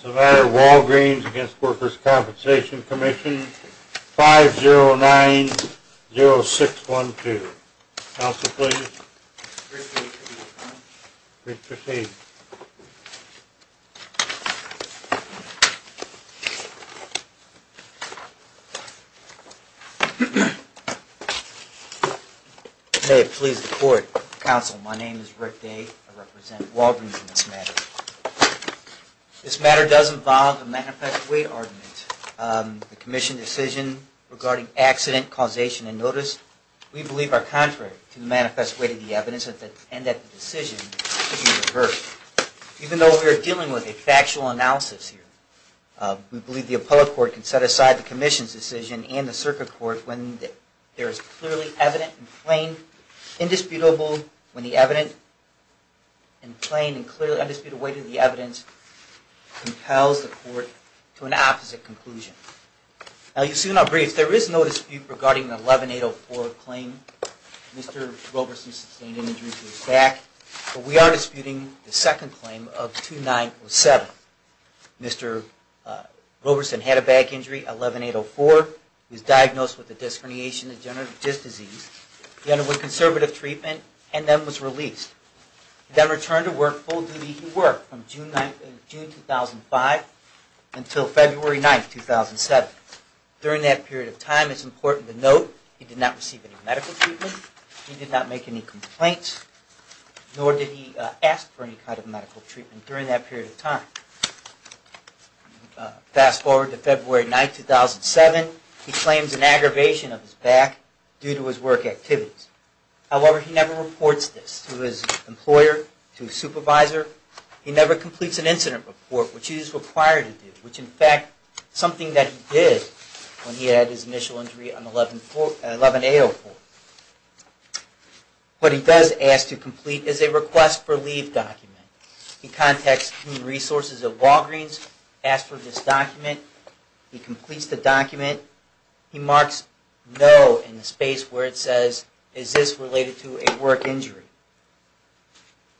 Savannah Walgreens against Workers' Compensation Commission 5 0 9 0 6 1 2 Council, please. Rick Day, Committee of the Council. Rick, proceed. May it please the Court, Council, my name is Rick Day. I represent Walgreens in this matter. This matter does involve a manifest way argument. The Commission decision regarding accident, causation, and notice, we believe are contrary to the manifest way to the evidence and that the decision should be reversed. Even though we are dealing with a factual analysis here, we believe the appellate court can set aside the Commission's decision and the circuit court when there is clearly evident and plain, indisputable, when the evident and plain and clearly undisputed way to the evidence compels the court to an opposite conclusion. Now, you've seen our briefs. There is no dispute regarding the 11804 claim. Mr. Roberson sustained an injury to his back, but we are disputing the second claim of 2907. Mr. Roberson had a back injury, 11804. He was diagnosed with a disc herniation and degenerative disc disease. He underwent conservative treatment and then was released. He then returned to work full-duty. He worked from June 2005 until February 9, 2007. During that period of time, it's important to note he did not receive any medical treatment. He did not make any complaints, nor did he ask for any kind of medical treatment during that period of time. Fast forward to February 9, 2007. He claims an aggravation of his back due to his work activities. However, he never reports this to his employer, to his supervisor. He never completes an incident report, which he is required to do, which in fact is something that he did when he had his initial injury on 11804. What he does ask to complete is a request for leave document. He contacts Human Resources of Walgreens, asks for this and says, is this related to a work injury?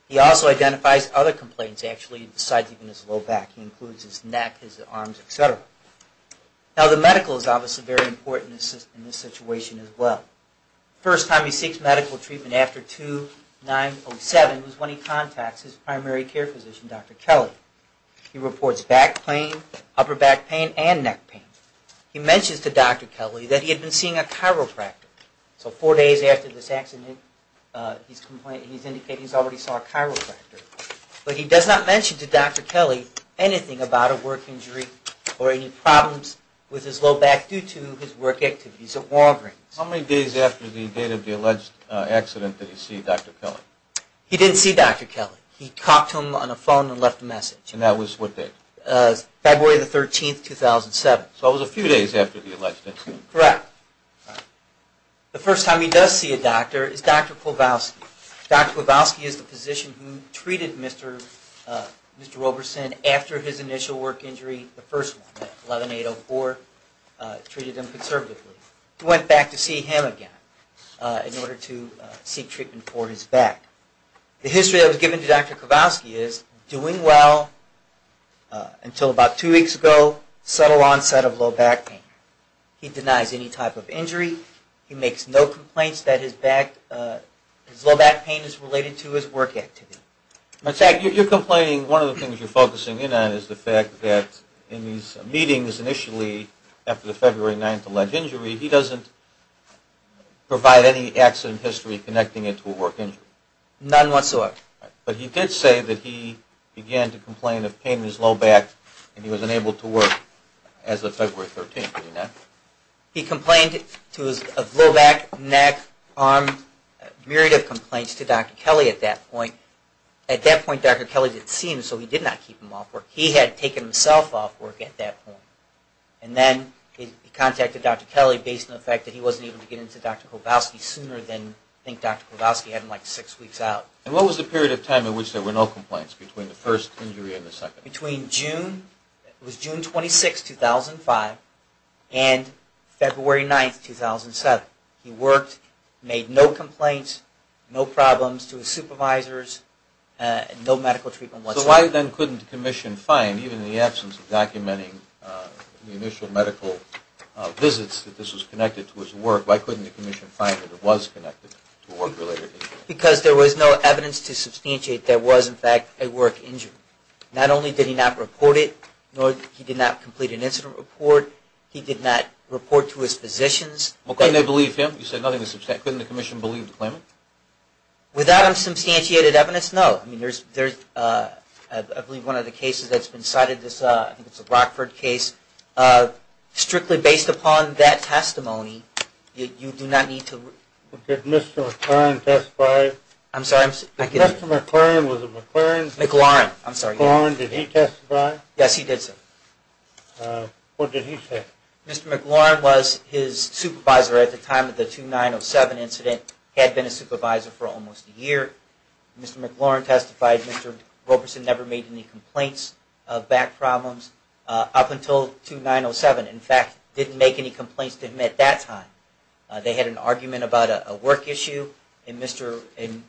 He also identifies other complaints actually besides even his low back. He includes his neck, his arms, etc. Now the medical is obviously very important in this situation as well. First time he seeks medical treatment after 2907 was when he contacts his primary care physician, Dr. Kelly. He reports back pain, upper back pain, and neck pain. He mentions to Dr. Kelly that he had been seeing a chiropractor. So four days after this accident, he's indicating he's already saw a chiropractor. But he does not mention to Dr. Kelly anything about a work injury or any problems with his low back due to his work activities at Walgreens. How many days after the date of the alleged accident did he see Dr. Kelly? He didn't see Dr. Kelly. He talked to him on the phone and left a message. And that was what date? February 13, 2007. So it was a few days after the alleged injury. Correct. The first time he does see a doctor is Dr. Kowalski. Dr. Kowalski is the physician who treated Mr. Roberson after his initial work injury, the first one, 11804, treated him conservatively. He went back to see him again in order to seek treatment for his back. The history that was given to Dr. Kowalski is doing well until about two weeks ago, subtle denies any type of injury. He makes no complaints that his low back pain is related to his work activity. You're complaining, one of the things you're focusing in on is the fact that in these meetings initially after the February 9th alleged injury, he doesn't provide any accident history connecting it to a work injury. None whatsoever. But he did say that he began to complain of pain in his low back and he was unable to He complained to his low back, neck, arm, a myriad of complaints to Dr. Kelly at that point. At that point Dr. Kelly didn't see him so he did not keep him off work. He had taken himself off work at that point. And then he contacted Dr. Kelly based on the fact that he wasn't able to get into Dr. Kowalski sooner than I think Dr. Kowalski had him like six weeks out. And what was the period of time in which there were no complaints between the first injury and the second? Between June, it was June 26th, 2005 and February 9th, 2007. He worked, made no complaints, no problems to his supervisors, no medical treatment whatsoever. So why then couldn't the commission find, even in the absence of documenting the initial medical visits that this was connected to his work, why couldn't the commission find that it was connected to a work-related injury? Because there was no evidence to substantiate there was in fact a work injury. Not only did he not report it, nor did he not complete an incident report, he did not report to his physicians. Well couldn't they believe him? You said nothing was substantiated. Couldn't the commission believe the claimant? Without substantiated evidence, no. I mean there's, I believe one of the cases that's been cited, I think it's a Rockford case. Strictly based upon that testimony, you do not need to... Did Mr. McLaurin testify? I'm sorry, I'm... Mr. McLaurin was a McLaurin... McLaurin, I'm sorry. McLaurin, did he testify? Yes, he did, sir. What did he say? Mr. McLaurin was his supervisor at the time of the 2907 incident, had been a supervisor for almost a year. Mr. McLaurin testified. Mr. Roberson never made any complaints of back problems up until 2907. In fact, didn't make any complaints to him at that time. They had an argument about a work issue, and Mr.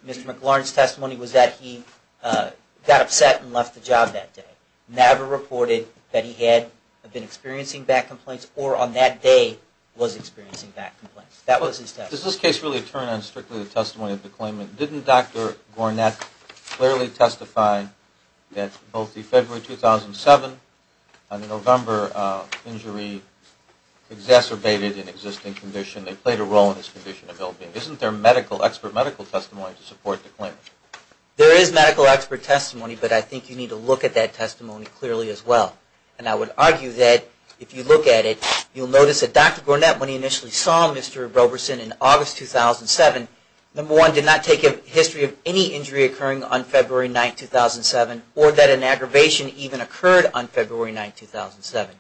McLaurin's testimony was that he got upset and left the job that day. Never reported that he had been experiencing back complaints or on that day was experiencing back complaints. That was his testimony. Does this case really turn on strictly the testimony of the claimant? Didn't Dr. Gornet clearly testify that both the February 2007 and the November injury exacerbated an existing condition? They played a role in his condition of ill-being. Isn't there medical, expert medical testimony to support the claimant? There is medical expert testimony, but I think you need to look at that testimony clearly as well. And I would argue that if you look at it, you'll notice that Dr. Gornet, when he initially saw Mr. Roberson in August 2007, number one, did not take a history of any injury occurring on February 9th, 2007, or that an aggravation even occurred on February 9th, 2007.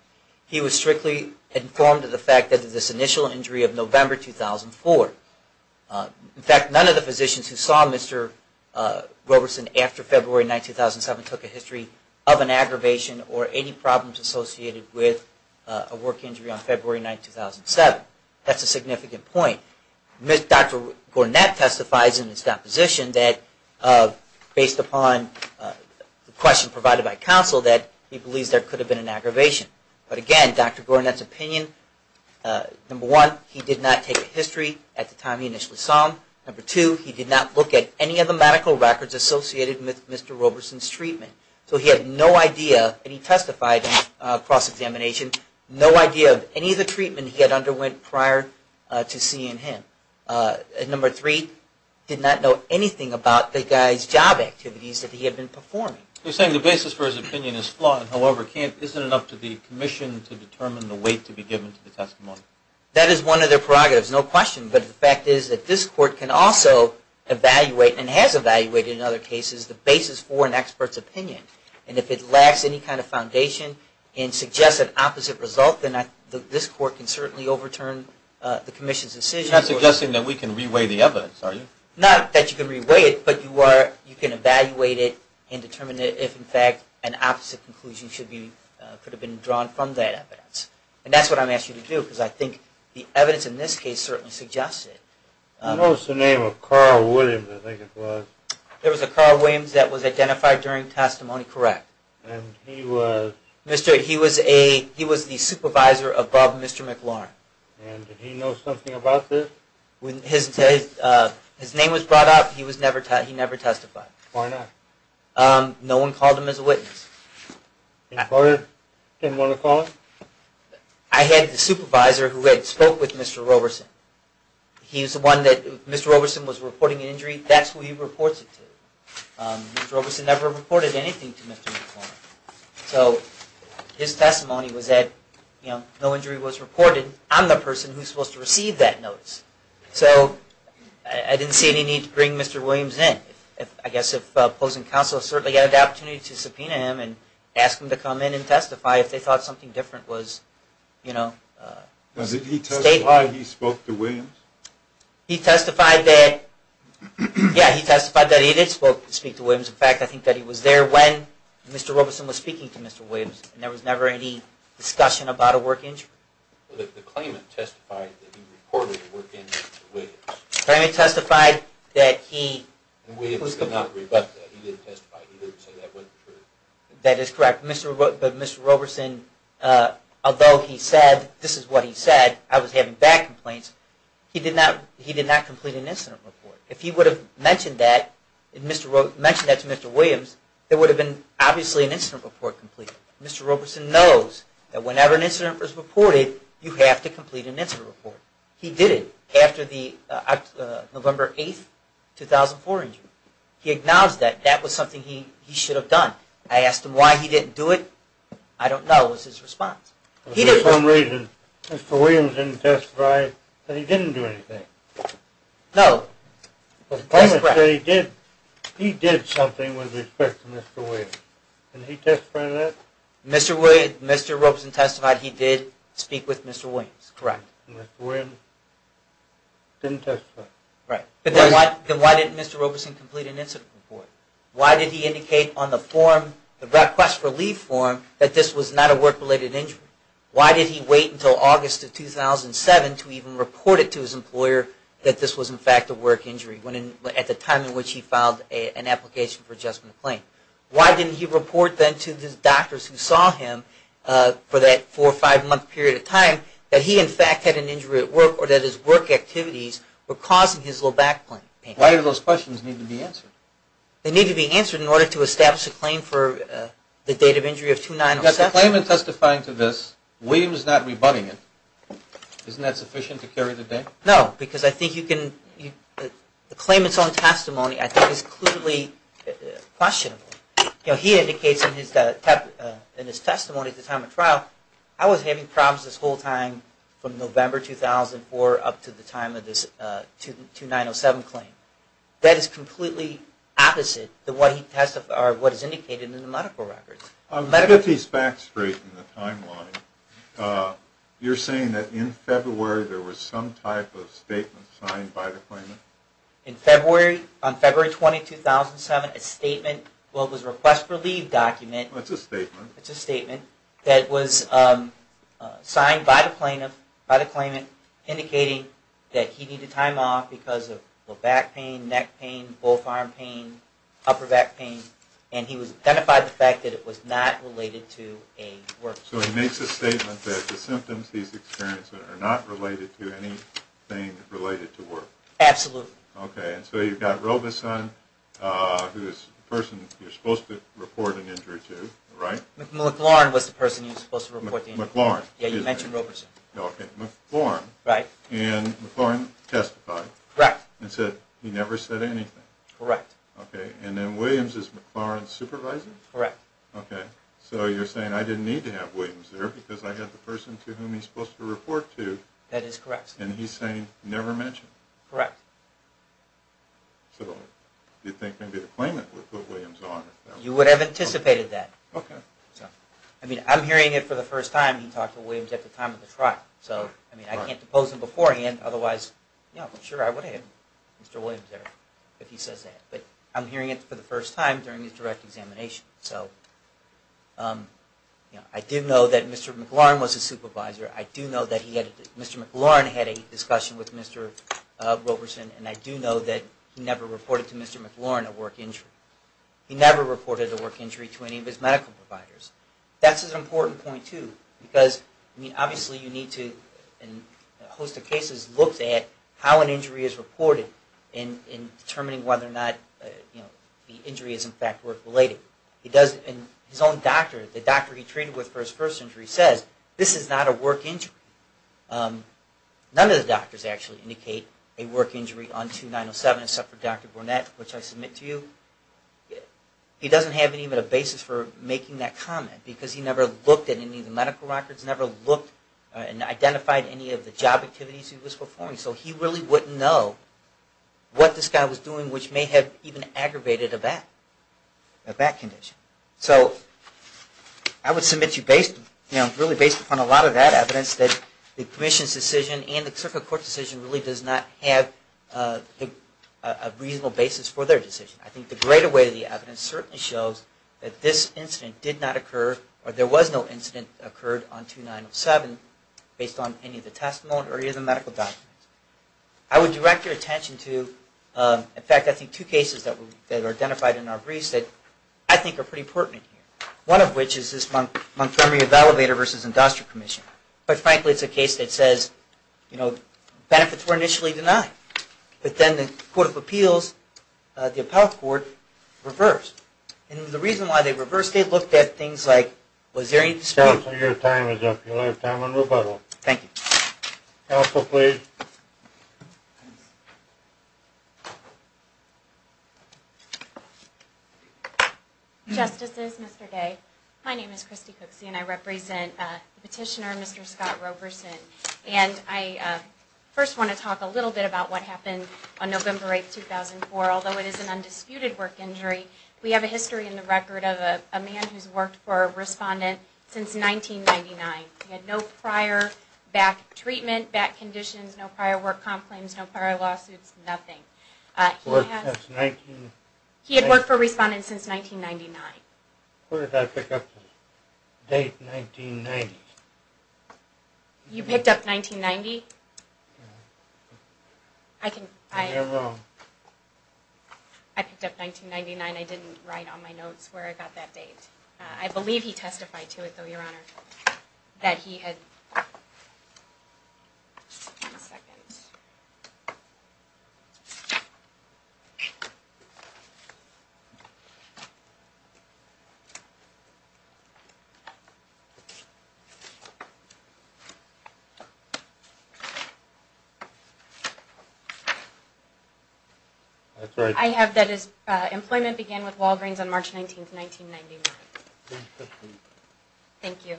He was strictly informed of the fact that this initial injury of November 2004. In fact, none of the physicians who saw Mr. Roberson after February 9th, 2007 took a history of an aggravation or any problems associated with a work injury on February 9th, 2007. That's a significant point. Dr. Gornet testifies in his deposition that, based upon the question provided by counsel, that he believes there could have been an aggravation. But again, Dr. Gornet's opinion, number one, he did not take a history at the time he initially saw him. Number two, he did not look at any of the medical records associated with Mr. Roberson's treatment. So he had no idea, and he testified in cross-examination, no idea of any of the treatment he had underwent prior to seeing him. And number three, did not know anything about the guy's job activities that he had been performing. You're saying the basis for his opinion is flawed, and however, isn't it up to the commission to determine the weight to be given to the testimony? That is one of their prerogatives, no question. But the fact is that this court can also evaluate and has evaluated, in other cases, the basis for an expert's opinion. And if it lacks any kind of foundation and suggests an opposite result, then this court can certainly overturn the commission's decision. You're not suggesting that we can re-weigh the evidence, are you? Not that you can re-weigh it, but you can evaluate it and determine if, in fact, an opposite conclusion could have been drawn from that evidence. And that's what I'm asking you to do, because I think the evidence in this case certainly suggests it. I noticed the name of Carl Williams, I think it was. There was a Carl Williams that was identified during testimony, correct. And he was? He was the supervisor above Mr. McLaurin. And did he know something about this? His name was brought up, he never testified. Why not? No one called him as a witness. Didn't anyone call him? I had the supervisor who had spoke with Mr. Roberson. He was the one that, Mr. Roberson was reporting an injury, that's who he reports it to. Mr. Roberson never reported anything to Mr. McLaurin. So his testimony was that, you know, no injury was reported, I'm the So, I didn't see any need to bring Mr. Williams in. I guess if opposing counsel certainly had the opportunity to subpoena him and ask him to come in and testify if they thought something different was, you know, stated. Did he testify he spoke to Williams? He testified that, yeah, he testified that he did speak to Williams. In fact, I think that he was there when Mr. Roberson was speaking to Mr. Williams, and there was never any discussion about a work injury. The claimant testified that he reported a work injury to Williams. The claimant testified that he... Williams did not rebut that, he didn't testify, he didn't say that wasn't true. That is correct, but Mr. Roberson, although he said, this is what he said, I was having bad complaints, he did not complete an incident report. If he would have mentioned that to Mr. Williams, there would have been obviously an incident report completed. Mr. Roberson knows that whenever an incident is reported, you have to complete an incident report. He did it after the November 8, 2004 injury. He acknowledged that that was something he should have done. I asked him why he didn't do it, I don't know, it was his response. For some reason, Mr. Williams didn't testify that he didn't do anything. No. The claimant said he did something with respect to Mr. Williams. Did he testify to that? Mr. Roberson testified he did speak with Mr. Williams. Correct. Mr. Williams didn't testify. Then why didn't Mr. Roberson complete an incident report? Why did he indicate on the request for leave form that this was not a work-related injury? Why did he wait until August of 2007 to even report it to his employer that this was in fact a work injury at the time in which he filed an application for adjustment claim? Why didn't he report then to the doctors who saw him for that four or five month period of time that he in fact had an injury at work or that his work activities were causing his low back pain? Why do those questions need to be answered? They need to be answered in order to establish a claim for the date of injury of 2009-07. But the claimant testifying to this, Williams not rebutting it, isn't that sufficient to carry the date? No, because the claimant's own testimony I think is clearly questionable. He indicates in his testimony at the time of trial, I was having problems this whole time from November 2004 up to the time of this 2009-07 claim. That is completely opposite of what is indicated in the medical records. To get these facts straight in the timeline, you're saying that in February there was some type of statement signed by the claimant? In February, on February 20, 2007, a statement, well it was a request for leave document. That's a statement. That's a statement that was signed by the claimant indicating that he needed time off because of low back pain, neck pain, both arm pain, upper back pain, and he was identified by the fact that it was not related to a work case. So he makes a statement that the symptoms he's experiencing are not related to anything related to work. Absolutely. Okay, and so you've got Robeson, who is the person you're supposed to report an injury to, right? McLaurin was the person you were supposed to report the injury to. McLaurin. Yeah, you mentioned Robeson. Okay, McLaurin. Right. And McLaurin testified. Correct. And said he never said anything. Correct. Okay, and then Williams is McLaurin's supervisor? Correct. Okay, so you're saying I didn't need to have Williams there because I had the person to whom he's supposed to report to. That is correct. And he's saying never mentioned? Correct. So do you think maybe the claimant would put Williams on? You would have anticipated that. Okay. I mean, I'm hearing it for the first time he talked to Williams at the time of the trial, so I mean, I can't depose him beforehand, otherwise, yeah, sure I would have had Mr. Robeson. He says that. But I'm hearing it for the first time during his direct examination. So, you know, I do know that Mr. McLaurin was his supervisor. I do know that he had, Mr. McLaurin had a discussion with Mr. Robeson, and I do know that he never reported to Mr. McLaurin a work injury. He never reported a work injury to any of his medical providers. That's an important point, too, because, I mean, obviously you need to, in a host of whether or not, you know, the injury is in fact work related. He does, and his own doctor, the doctor he treated with for his first injury says, this is not a work injury. None of the doctors actually indicate a work injury on 2907 except for Dr. Burnett, which I submit to you. He doesn't have even a basis for making that comment, because he never looked at any of the medical records, never looked and identified any of the job activities he was performing. So he really wouldn't know what this guy was doing, which may have even aggravated a back condition. So, I would submit to you based, you know, really based upon a lot of that evidence that the Commission's decision and the Circuit Court's decision really does not have a reasonable basis for their decision. I think the greater weight of the evidence certainly shows that this incident did not occur, or there was no incident that occurred on 2907 based on any of the testimony or any of the medical documents. I would direct your attention to, in fact, I think two cases that were identified in our briefs that I think are pretty important here. One of which is this Montgomery Evaluator versus Industrial Commission. But frankly, it's a case that says, you know, benefits were initially denied, but then the Court of Appeals, the Appellate Court, reversed. And the reason why they reversed, they looked at things like, was there any dispute? Your time is up. You'll have time on rebuttal. Thank you. Counsel, please. Justices, Mr. Day, my name is Christy Cooksey, and I represent the petitioner, Mr. Scott Roberson. And I first want to talk a little bit about what happened on November 8, 2004. Although it is an undisputed work injury, we have a history in the record of a man who's worked for a respondent since 1999. He had no prior back treatment, back conditions, no prior work comp claims, no prior lawsuits, nothing. He had worked for a respondent since 1999. Where did I pick up the date, 1990? You picked up 1990? I picked up 1999. I didn't write on my notes where I got that date. I believe he testified to it, though, Your Honor, that he had... That's right. I have that his employment began with Walgreens on March 19, 1999. Thank you.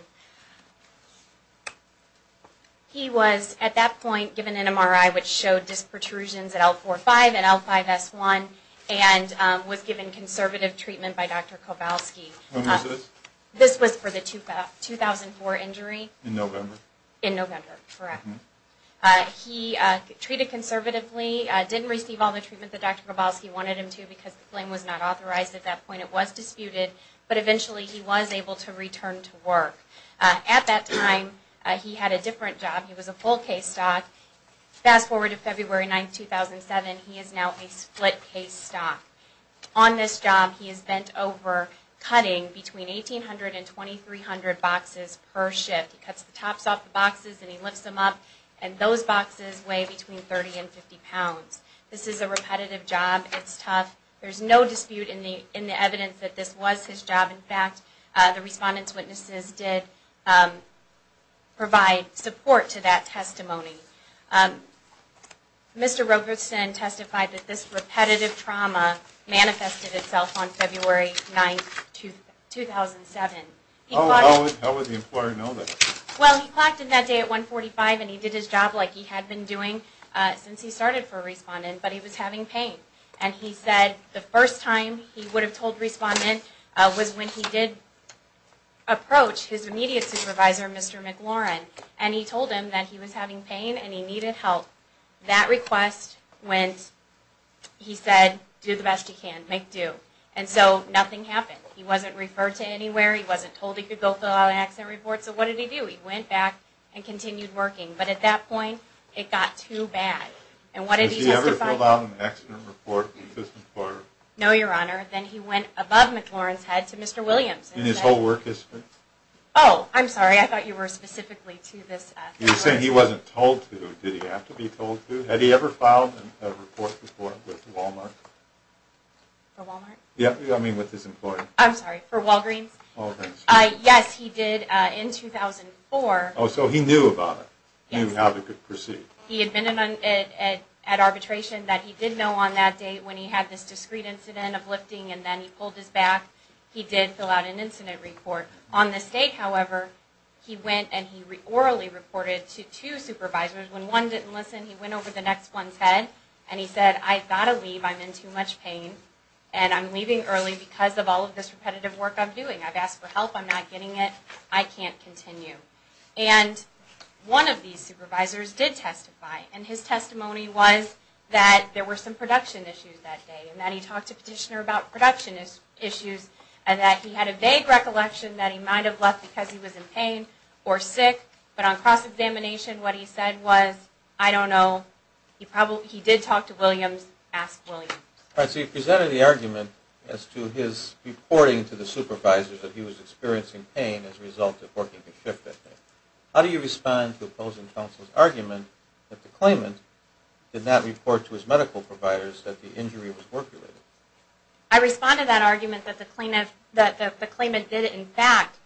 He was, at that point, given an MRI which showed disc protrusions at L4-5 and L5-S1 and was given conservative treatment by Dr. Kowalski. When was this? This was for the 2004 injury. In November? In November, correct. He treated conservatively, didn't receive all the treatment that Dr. Kowalski wanted him to because the claim was not authorized at that point. It was disputed, but eventually he was able to return to work. At that time, he had a different job. He was a full case stock. Fast forward to February 9, 2007. He is now a split case stock. On this job, he is bent over cutting between 1,800 and 2,300 boxes per shift. He cuts the tops off the boxes and he lifts them up, and those boxes weigh between 30 and 50 pounds. This is a repetitive job. It's tough. There's no dispute in the evidence that this was his job. In fact, the respondent's witnesses did provide support to that testimony. Mr. Roberson testified that this repetitive trauma manifested itself on February 9, 2007. How would the employer know that? Well, he clocked in that day at 145 and he did his job like he had been doing since he started for a respondent, but he was having pain. And he said the first time he would have told respondent was when he did approach his immediate supervisor, Mr. McLaurin, and he told him that he was having pain and he needed help. That request went, he said, do the best you can. Make do. And so nothing happened. He wasn't referred to anywhere. He wasn't told he could go fill out an accident report. So what did he do? He went back and continued working. But at that point, it got too bad. And what did he testify? Did he ever fill out an accident report to this employer? No, Your Honor. Then he went above McLaurin's head to Mr. Williams. In his whole work history? Oh, I'm sorry. I thought you were specifically to this employer. You're saying he wasn't told to. Did he have to be told to? Had he ever filed a report before with Walmart? For Walmart? Yeah, I mean with his employer. I'm sorry, for Walgreens? Walgreens. Yes, he did in 2004. Oh, so he knew about it. He knew how to proceed. He admitted at arbitration that he did know on that date when he had this discreet incident of lifting and then he pulled his back, he did fill out an incident report. On the state, however, he went and he orally reported to two supervisors. When one didn't listen, he went over the next one's head and he said, I've got to leave. I'm in too much pain. And I'm leaving early because of all of this repetitive work I'm doing. I've asked for help. I'm not getting it. I can't continue. And one of these supervisors did testify, and his testimony was that there were some production issues that day and that he talked to a petitioner about production issues and that he had a vague recollection that he might have left because he was in pain or sick. But on cross-examination, what he said was, I don't know. He did talk to Williams, asked Williams. All right, so you presented the argument as to his reporting to the supervisors that he was experiencing pain as a result of working the shift that day. How do you respond to opposing counsel's argument that the claimant did not report to his medical providers that the injury was work-related? I respond to that argument that the claimant did, in fact,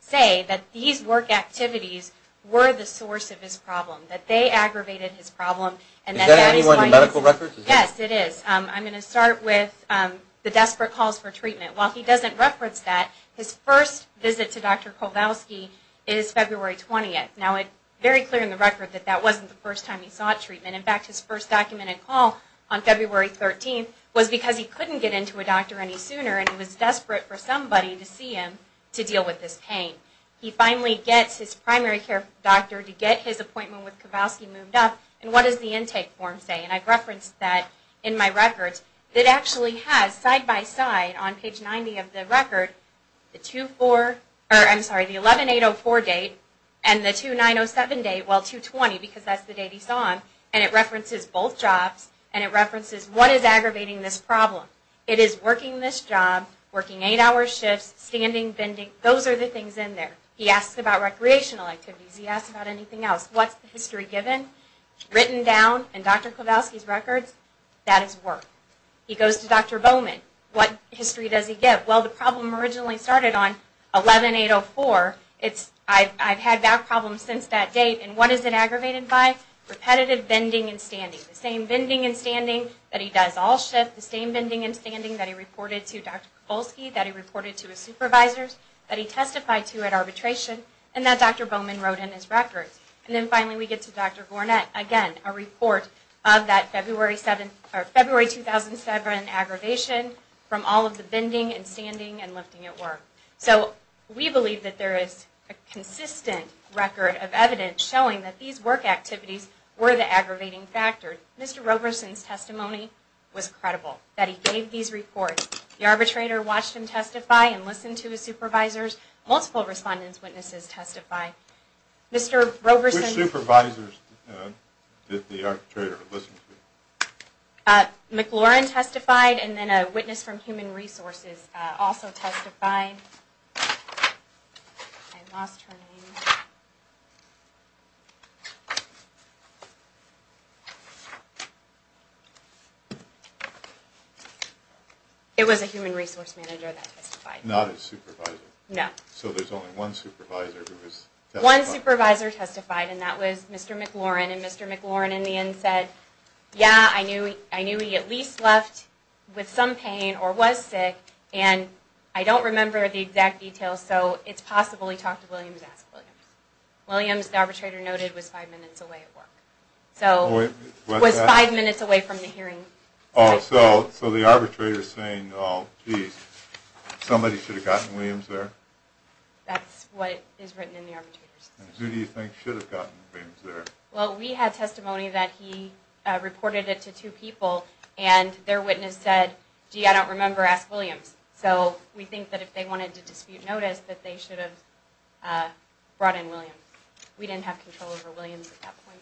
say that these work activities were the source of his problem, that they aggravated his problem. Is that in any one of the medical records? Yes, it is. I'm going to start with the desperate calls for treatment. While he doesn't reference that, his first visit to Dr. Kowalski is February 20th. Now, very clear in the record that that wasn't the first time he sought treatment. In fact, his first documented call on February 13th was because he couldn't get into a doctor any sooner and he was desperate for somebody to see him to deal with this pain. He finally gets his primary care doctor to get his appointment with Kowalski moved up, and what does the intake form say? And I've referenced that in my records. It actually has, side-by-side on page 90 of the record, the 11804 date and the 2907 date, well, 220, because that's the date he saw him, and it references both jobs, and it references what is aggravating this problem. It is working this job, working eight-hour shifts, standing, bending, those are the things in there. He asks about recreational activities. He asks about anything else. What's the history given? Written down in Dr. Kowalski's records, that is work. He goes to Dr. Bowman. What history does he give? Well, the problem originally started on 11804. I've had that problem since that date, and what is it aggravated by? Repetitive bending and standing, the same bending and standing that he does all shifts, the same bending and standing that he reported to Dr. Kowalski, that he reported to his supervisors, that he testified to at arbitration, and that Dr. Bowman wrote in his records. And then, finally, we get to Dr. Gournett, again, a report of that February 2007 aggravation from all of the bending and standing and lifting at work. So we believe that there is a consistent record of evidence showing that these work activities were the aggravating factor. Mr. Roberson's testimony was credible, that he gave these reports. The arbitrator watched him testify and listened to his supervisors. Multiple respondents' witnesses testified. Which supervisors did the arbitrator listen to? McLaurin testified, and then a witness from Human Resources also testified. It was a human resource manager that testified. Not his supervisor? No. So there's only one supervisor who has testified. One supervisor testified, and that was Mr. McLaurin. And Mr. McLaurin, in the end, said, yeah, I knew he at least left with some pain or was sick, and I don't remember the exact details, so it's possible he talked to Williams, asked Williams. Williams, the arbitrator noted, was five minutes away at work. Was five minutes away from the hearing. So the arbitrator is saying, oh, geez, somebody should have gotten Williams there? That's what is written in the arbitrator's testimony. Who do you think should have gotten Williams there? Well, we had testimony that he reported it to two people, and their witness said, gee, I don't remember, ask Williams. So we think that if they wanted to dispute notice, that they should have brought in Williams. We didn't have control over Williams at that point.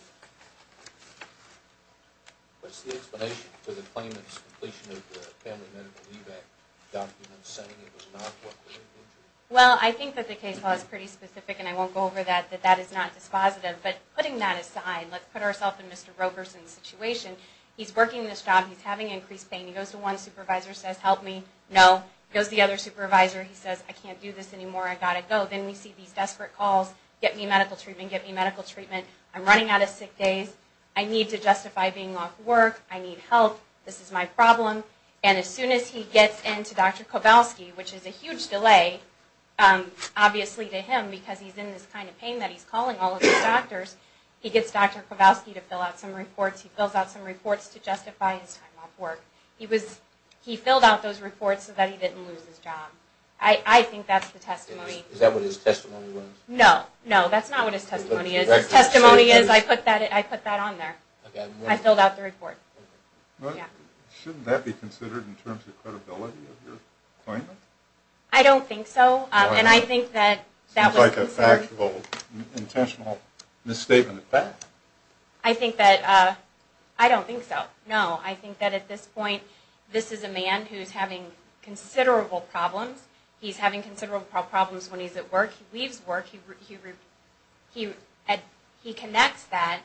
What's the explanation for the claimant's completion of the Family Medical Leave Act document saying it was not a co-occurring injury? Well, I think that the case law is pretty specific, and I won't go over that, that that is not dispositive. But putting that aside, let's put ourselves in Mr. Roberson's situation. He's working this job. He's having increased pain. He goes to one supervisor, says, help me. No. He goes to the other supervisor. He says, I can't do this anymore. I've got to go. Then we see these desperate calls, get me medical treatment, get me medical treatment. I'm running out of sick days. I need to justify being off work. I need help. This is my problem. And as soon as he gets into Dr. Kowalski, which is a huge delay, obviously to him, because he's in this kind of pain that he's calling all of his doctors, he gets Dr. Kowalski to fill out some reports. He fills out some reports to justify his time off work. He filled out those reports so that he didn't lose his job. I think that's the testimony. Is that what his testimony was? No. No, that's not what his testimony is. His testimony is, I put that on there. I filled out the report. Shouldn't that be considered in terms of credibility of your appointment? I don't think so. And I think that that was... Seems like a factual, intentional misstatement at best. I think that, I don't think so. No. I think that at this point, this is a man who's having considerable problems. He's having considerable problems when he's at work. He leaves work. He connects that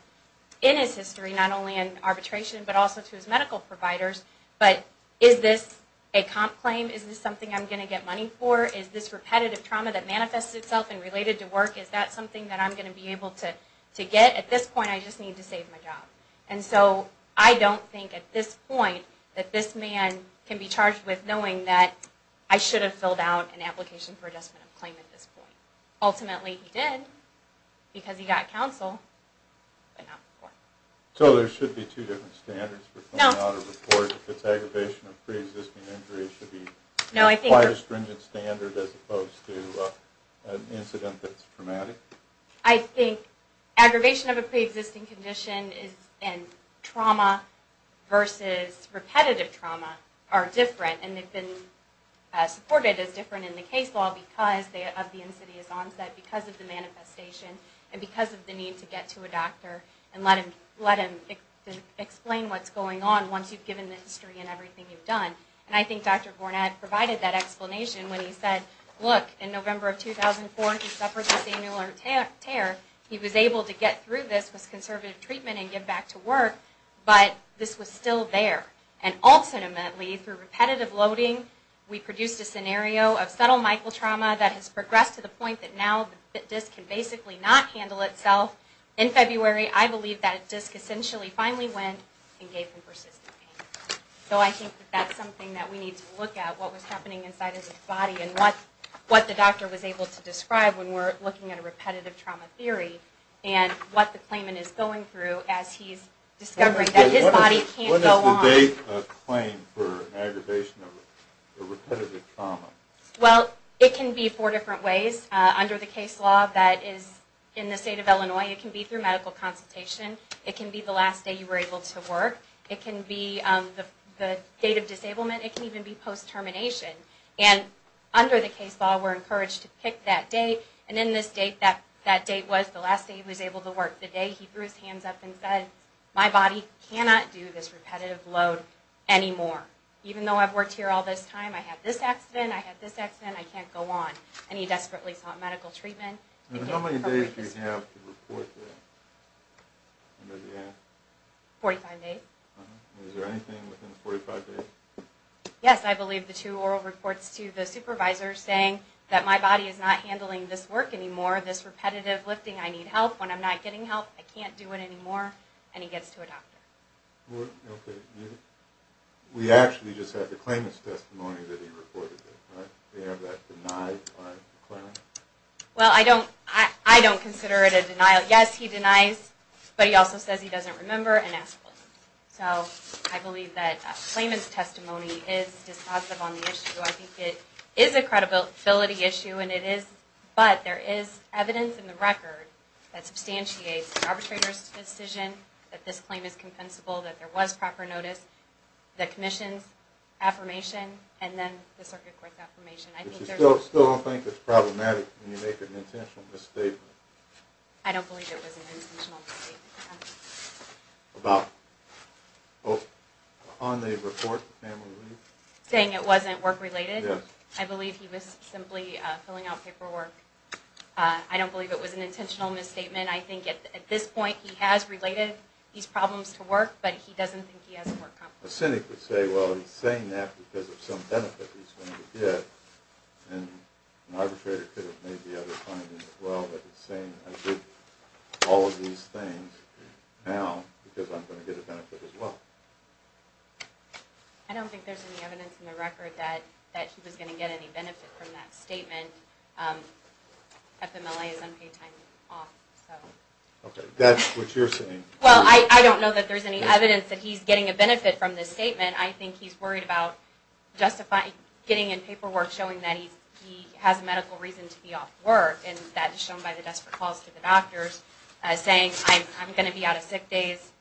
in his history, not only in arbitration, but also to his medical providers. But is this a comp claim? Is this something I'm going to get money for? Is this repetitive trauma that manifests itself and related to work, is that something that I'm going to be able to get? At this point, I just need to save my job. And so I don't think at this point that this man can be charged with knowing that I should have filled out an application for adjustment of claim at this point. Ultimately, he did, because he got counsel, but not before. So there should be two different standards for filling out a report. If it's aggravation of pre-existing injury, it should be quite a stringent standard as opposed to an incident that's traumatic? I think aggravation of a pre-existing condition and trauma versus repetitive trauma are different. And they've been supported as different in the case law because of the insidious onset, because of the manifestation, and because of the need to get to a doctor and let him explain what's going on once you've given the history and everything you've done. And I think Dr. Gornad provided that explanation when he said, look, in November of 2004, he suffered this annular tear. He was able to get through this with conservative treatment and get back to work, but this was still there. And ultimately, through repetitive loading, we produced a scenario of subtle mitral trauma that has progressed to the point that now the disc can basically not handle itself. In February, I believe that disc essentially finally went and gave him persistent pain. So I think that's something that we need to look at, what was happening inside of his body and what the doctor was able to describe when we're looking at a repetitive trauma theory and what the claimant is going through as he's discovering that his body can't go on. What is the date of claim for an aggravation of a repetitive trauma? Well, it can be four different ways. Under the case law that is in the state of Illinois, it can be through medical consultation. It can be the last day you were able to work. It can be the date of disablement. It can even be post-termination. And under the case law, we're encouraged to pick that date. And in this date, that date was the last day he was able to work. The day he threw his hands up and said, my body cannot do this repetitive load anymore. Even though I've worked here all this time, I had this accident, I had this accident, I can't go on. And he desperately sought medical treatment. How many days do you have to report that? 45 days. Is there anything within 45 days? Yes, I believe the two oral reports to the supervisor saying that my body is not handling this work anymore, this repetitive lifting. I need help. When I'm not getting help, I can't do it anymore. And he gets to a doctor. Okay. We actually just had the claimant's testimony that he reported it. Do you have that denied by the clerk? Well, I don't consider it a denial. Yes, he denies, but he also says he doesn't remember and asks for it. So I believe that a claimant's testimony is dispositive on the issue. I think it is a credibility issue, and it is. But there is evidence in the record that substantiates the arbitrator's decision that this claim is compensable, that there was proper notice, the commission's affirmation, and then the circuit court's affirmation. You still don't think it's problematic when you make an intentional misstatement? I don't believe it was an intentional misstatement. About? On the report? Saying it wasn't work-related? Yes. I believe he was simply filling out paperwork. I don't believe it was an intentional misstatement. I think at this point he has related these problems to work, but he doesn't think he has a work compensation. A cynic would say, well, he's saying that because of some benefit he's going to get, and an arbitrator could have made the other findings as well, but he's saying I did all of these things now because I'm going to get a benefit as well. I don't think there's any evidence in the record that he was going to get any benefit from that statement. FMLA is unpaid time off. Okay, that's what you're saying. Well, I don't know that there's any evidence that he's getting a benefit from this statement. I think he's worried about getting in paperwork showing that he has a medical reason to be off work, and that is shown by the desperate calls to the doctors saying I'm going to be out of sick days,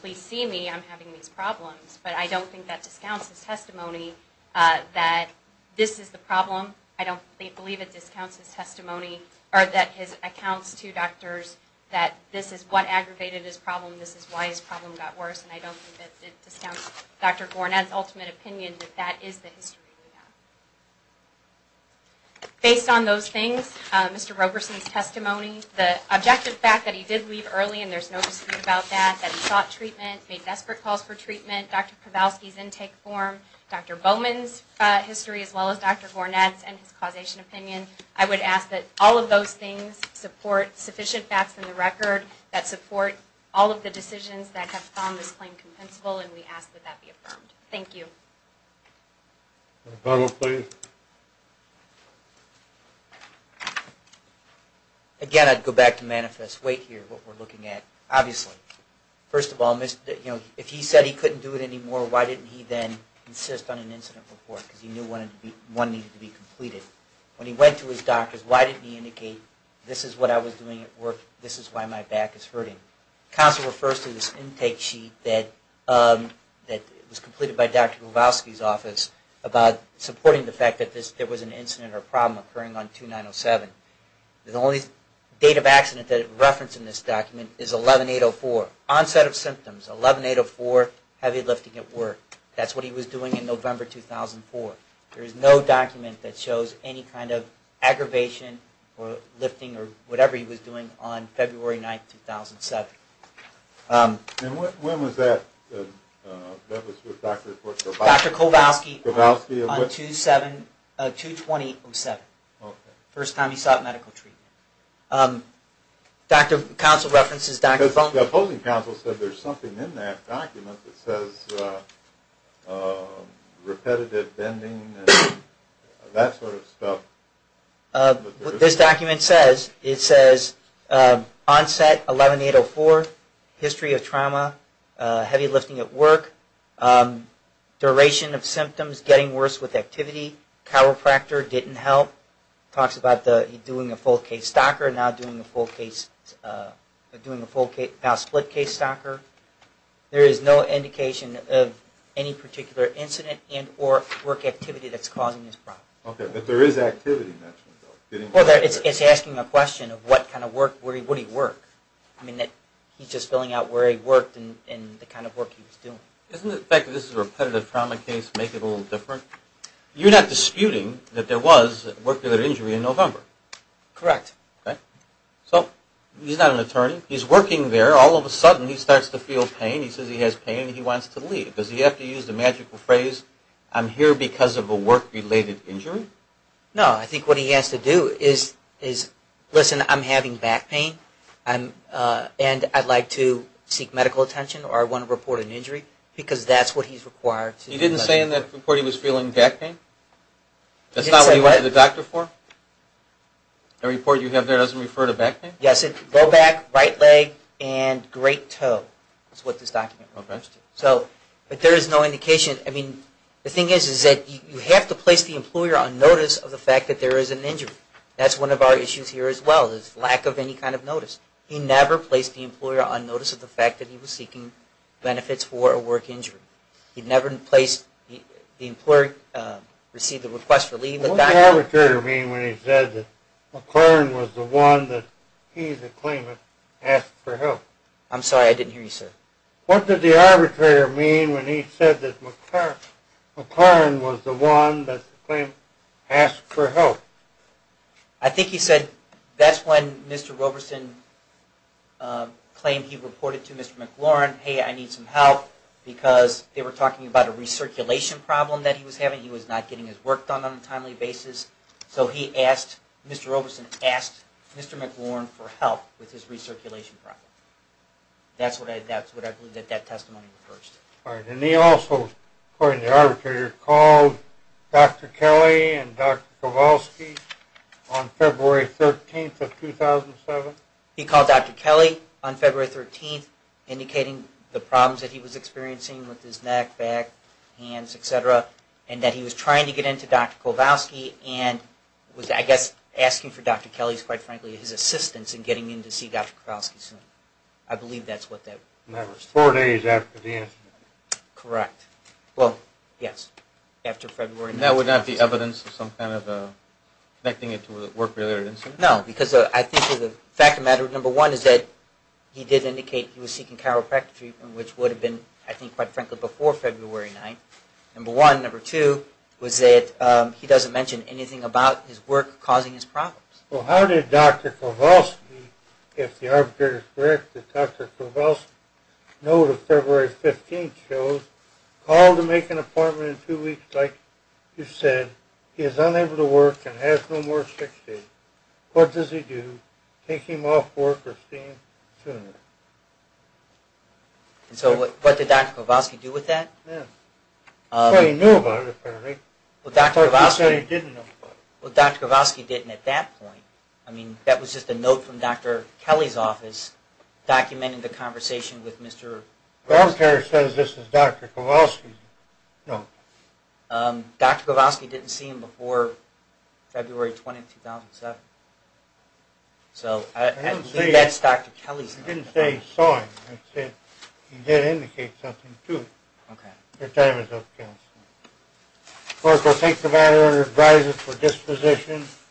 please see me, I'm having these problems. But I don't think that discounts his testimony that this is the problem. I don't believe it discounts his testimony or that his accounts to doctors that this is what aggravated his problem, this is why his problem got worse, and I don't think it discounts Dr. Gornad's ultimate opinion that that is the history we have. The objective fact that he did leave early and there's no dispute about that, that he sought treatment, made desperate calls for treatment, Dr. Kowalski's intake form, Dr. Bowman's history as well as Dr. Gornad's and his causation opinion, I would ask that all of those things support sufficient facts in the record that support all of the decisions that have found this claim compensable, and we ask that that be affirmed. Thank you. A follow-up, please. Again, I'd go back to manifest weight here, what we're looking at. Obviously, first of all, if he said he couldn't do it anymore, why didn't he then insist on an incident report because he knew one needed to be completed? When he went to his doctors, why didn't he indicate this is what I was doing at work, this is why my back is hurting? Council refers to this intake sheet that was completed by Dr. Kowalski's office about supporting the fact that there was an incident or problem occurring on 2907. The only date of accident that is referenced in this document is 11804, onset of symptoms, 11804, heavy lifting at work. That's what he was doing in November 2004. There is no document that shows any kind of aggravation or lifting or whatever he was doing on February 9, 2007. And when was that? That was with Dr. Kowalski. Dr. Kowalski on 22007, first time he sought medical treatment. Council references Dr. Funk. The opposing council said there's something in that document that says repetitive bending and that sort of stuff. What this document says, it says onset 11804, history of trauma, heavy lifting at work, duration of symptoms, getting worse with activity, chiropractor didn't help. It talks about doing a full case stocker and now doing a split case stocker. There is no indication of any particular incident and or work activity that's causing this problem. Okay, but there is activity. It's asking a question of what kind of work, where would he work. He's just filling out where he worked and the kind of work he was doing. Doesn't the fact that this is a repetitive trauma case make it a little different? You're not disputing that there was work-related injury in November. Correct. So he's not an attorney. He's working there. All of a sudden he starts to feel pain. He says he has pain and he wants to leave. Does he have to use the magical phrase, I'm here because of a work-related injury? No, I think what he has to do is, listen, I'm having back pain and I'd like to seek medical attention or I want to report an injury because that's what he's required to do. He didn't say in that report he was feeling back pain? That's not what he went to the doctor for? The report you have there doesn't refer to back pain? Yes, low back, right leg and great toe is what this document refers to. But there is no indication. The thing is that you have to place the employer on notice of the fact that there is an injury. That's one of our issues here as well is lack of any kind of notice. He never placed the employer on notice of the fact that he was seeking benefits for a work injury. The employer received the request for leave. What did the arbitrator mean when he said that McLaren was the one that he's a claimant asked for help? I'm sorry, I didn't hear you, sir. What did the arbitrator mean when he said that McLaren was the one that the claimant asked for help? I think he said that's when Mr. Roberson claimed he reported to Mr. McLaren, hey, I need some help because they were talking about a recirculation problem that he was having. He was not getting his work done on a timely basis. So he asked, Mr. Roberson asked Mr. McLaren for help with his recirculation problem. That's what I believe that testimony refers to. All right. And he also, according to the arbitrator, called Dr. Kelly and Dr. Kowalski on February 13th of 2007? He called Dr. Kelly on February 13th indicating the problems that he was experiencing with his neck, back, hands, etc., and that he was trying to get into Dr. Kowalski and was, I guess, asking for Dr. Kelly's, quite frankly, his assistance in getting him to see Dr. Kowalski soon. I believe that's what that refers to. And that was four days after the incident? Correct. Well, yes, after February 19th. And that would not be evidence of some kind of connecting it to a work-related incident? No, because I think the fact of the matter, number one, is that he did indicate he was seeking chiropractic treatment, which would have been, I think, quite frankly, before February 9th. Number one. Number two was that he doesn't mention anything about his work causing his problems. Well, how did Dr. Kowalski, if the arbitrator is correct, that Dr. Kowalski, note of February 15th shows, call to make an appointment in two weeks, like you said, he is unable to work and has no more six days. What does he do? Take him off work or see him sooner? And so what did Dr. Kowalski do with that? Yes. Well, he knew about it apparently. Well, Dr. Kowalski... He said he didn't know about it. Well, Dr. Kowalski didn't at that point. I mean, that was just a note from Dr. Kelly's office documenting the conversation with Mr.... The arbitrator says this is Dr. Kowalski's note. Dr. Kowalski didn't see him before February 20th, 2007. So I believe that's Dr. Kelly's... He didn't say he saw him. He said he did indicate something to him. Okay. Your time is up, counsel. Clerk will take the matter under advisory for disposition.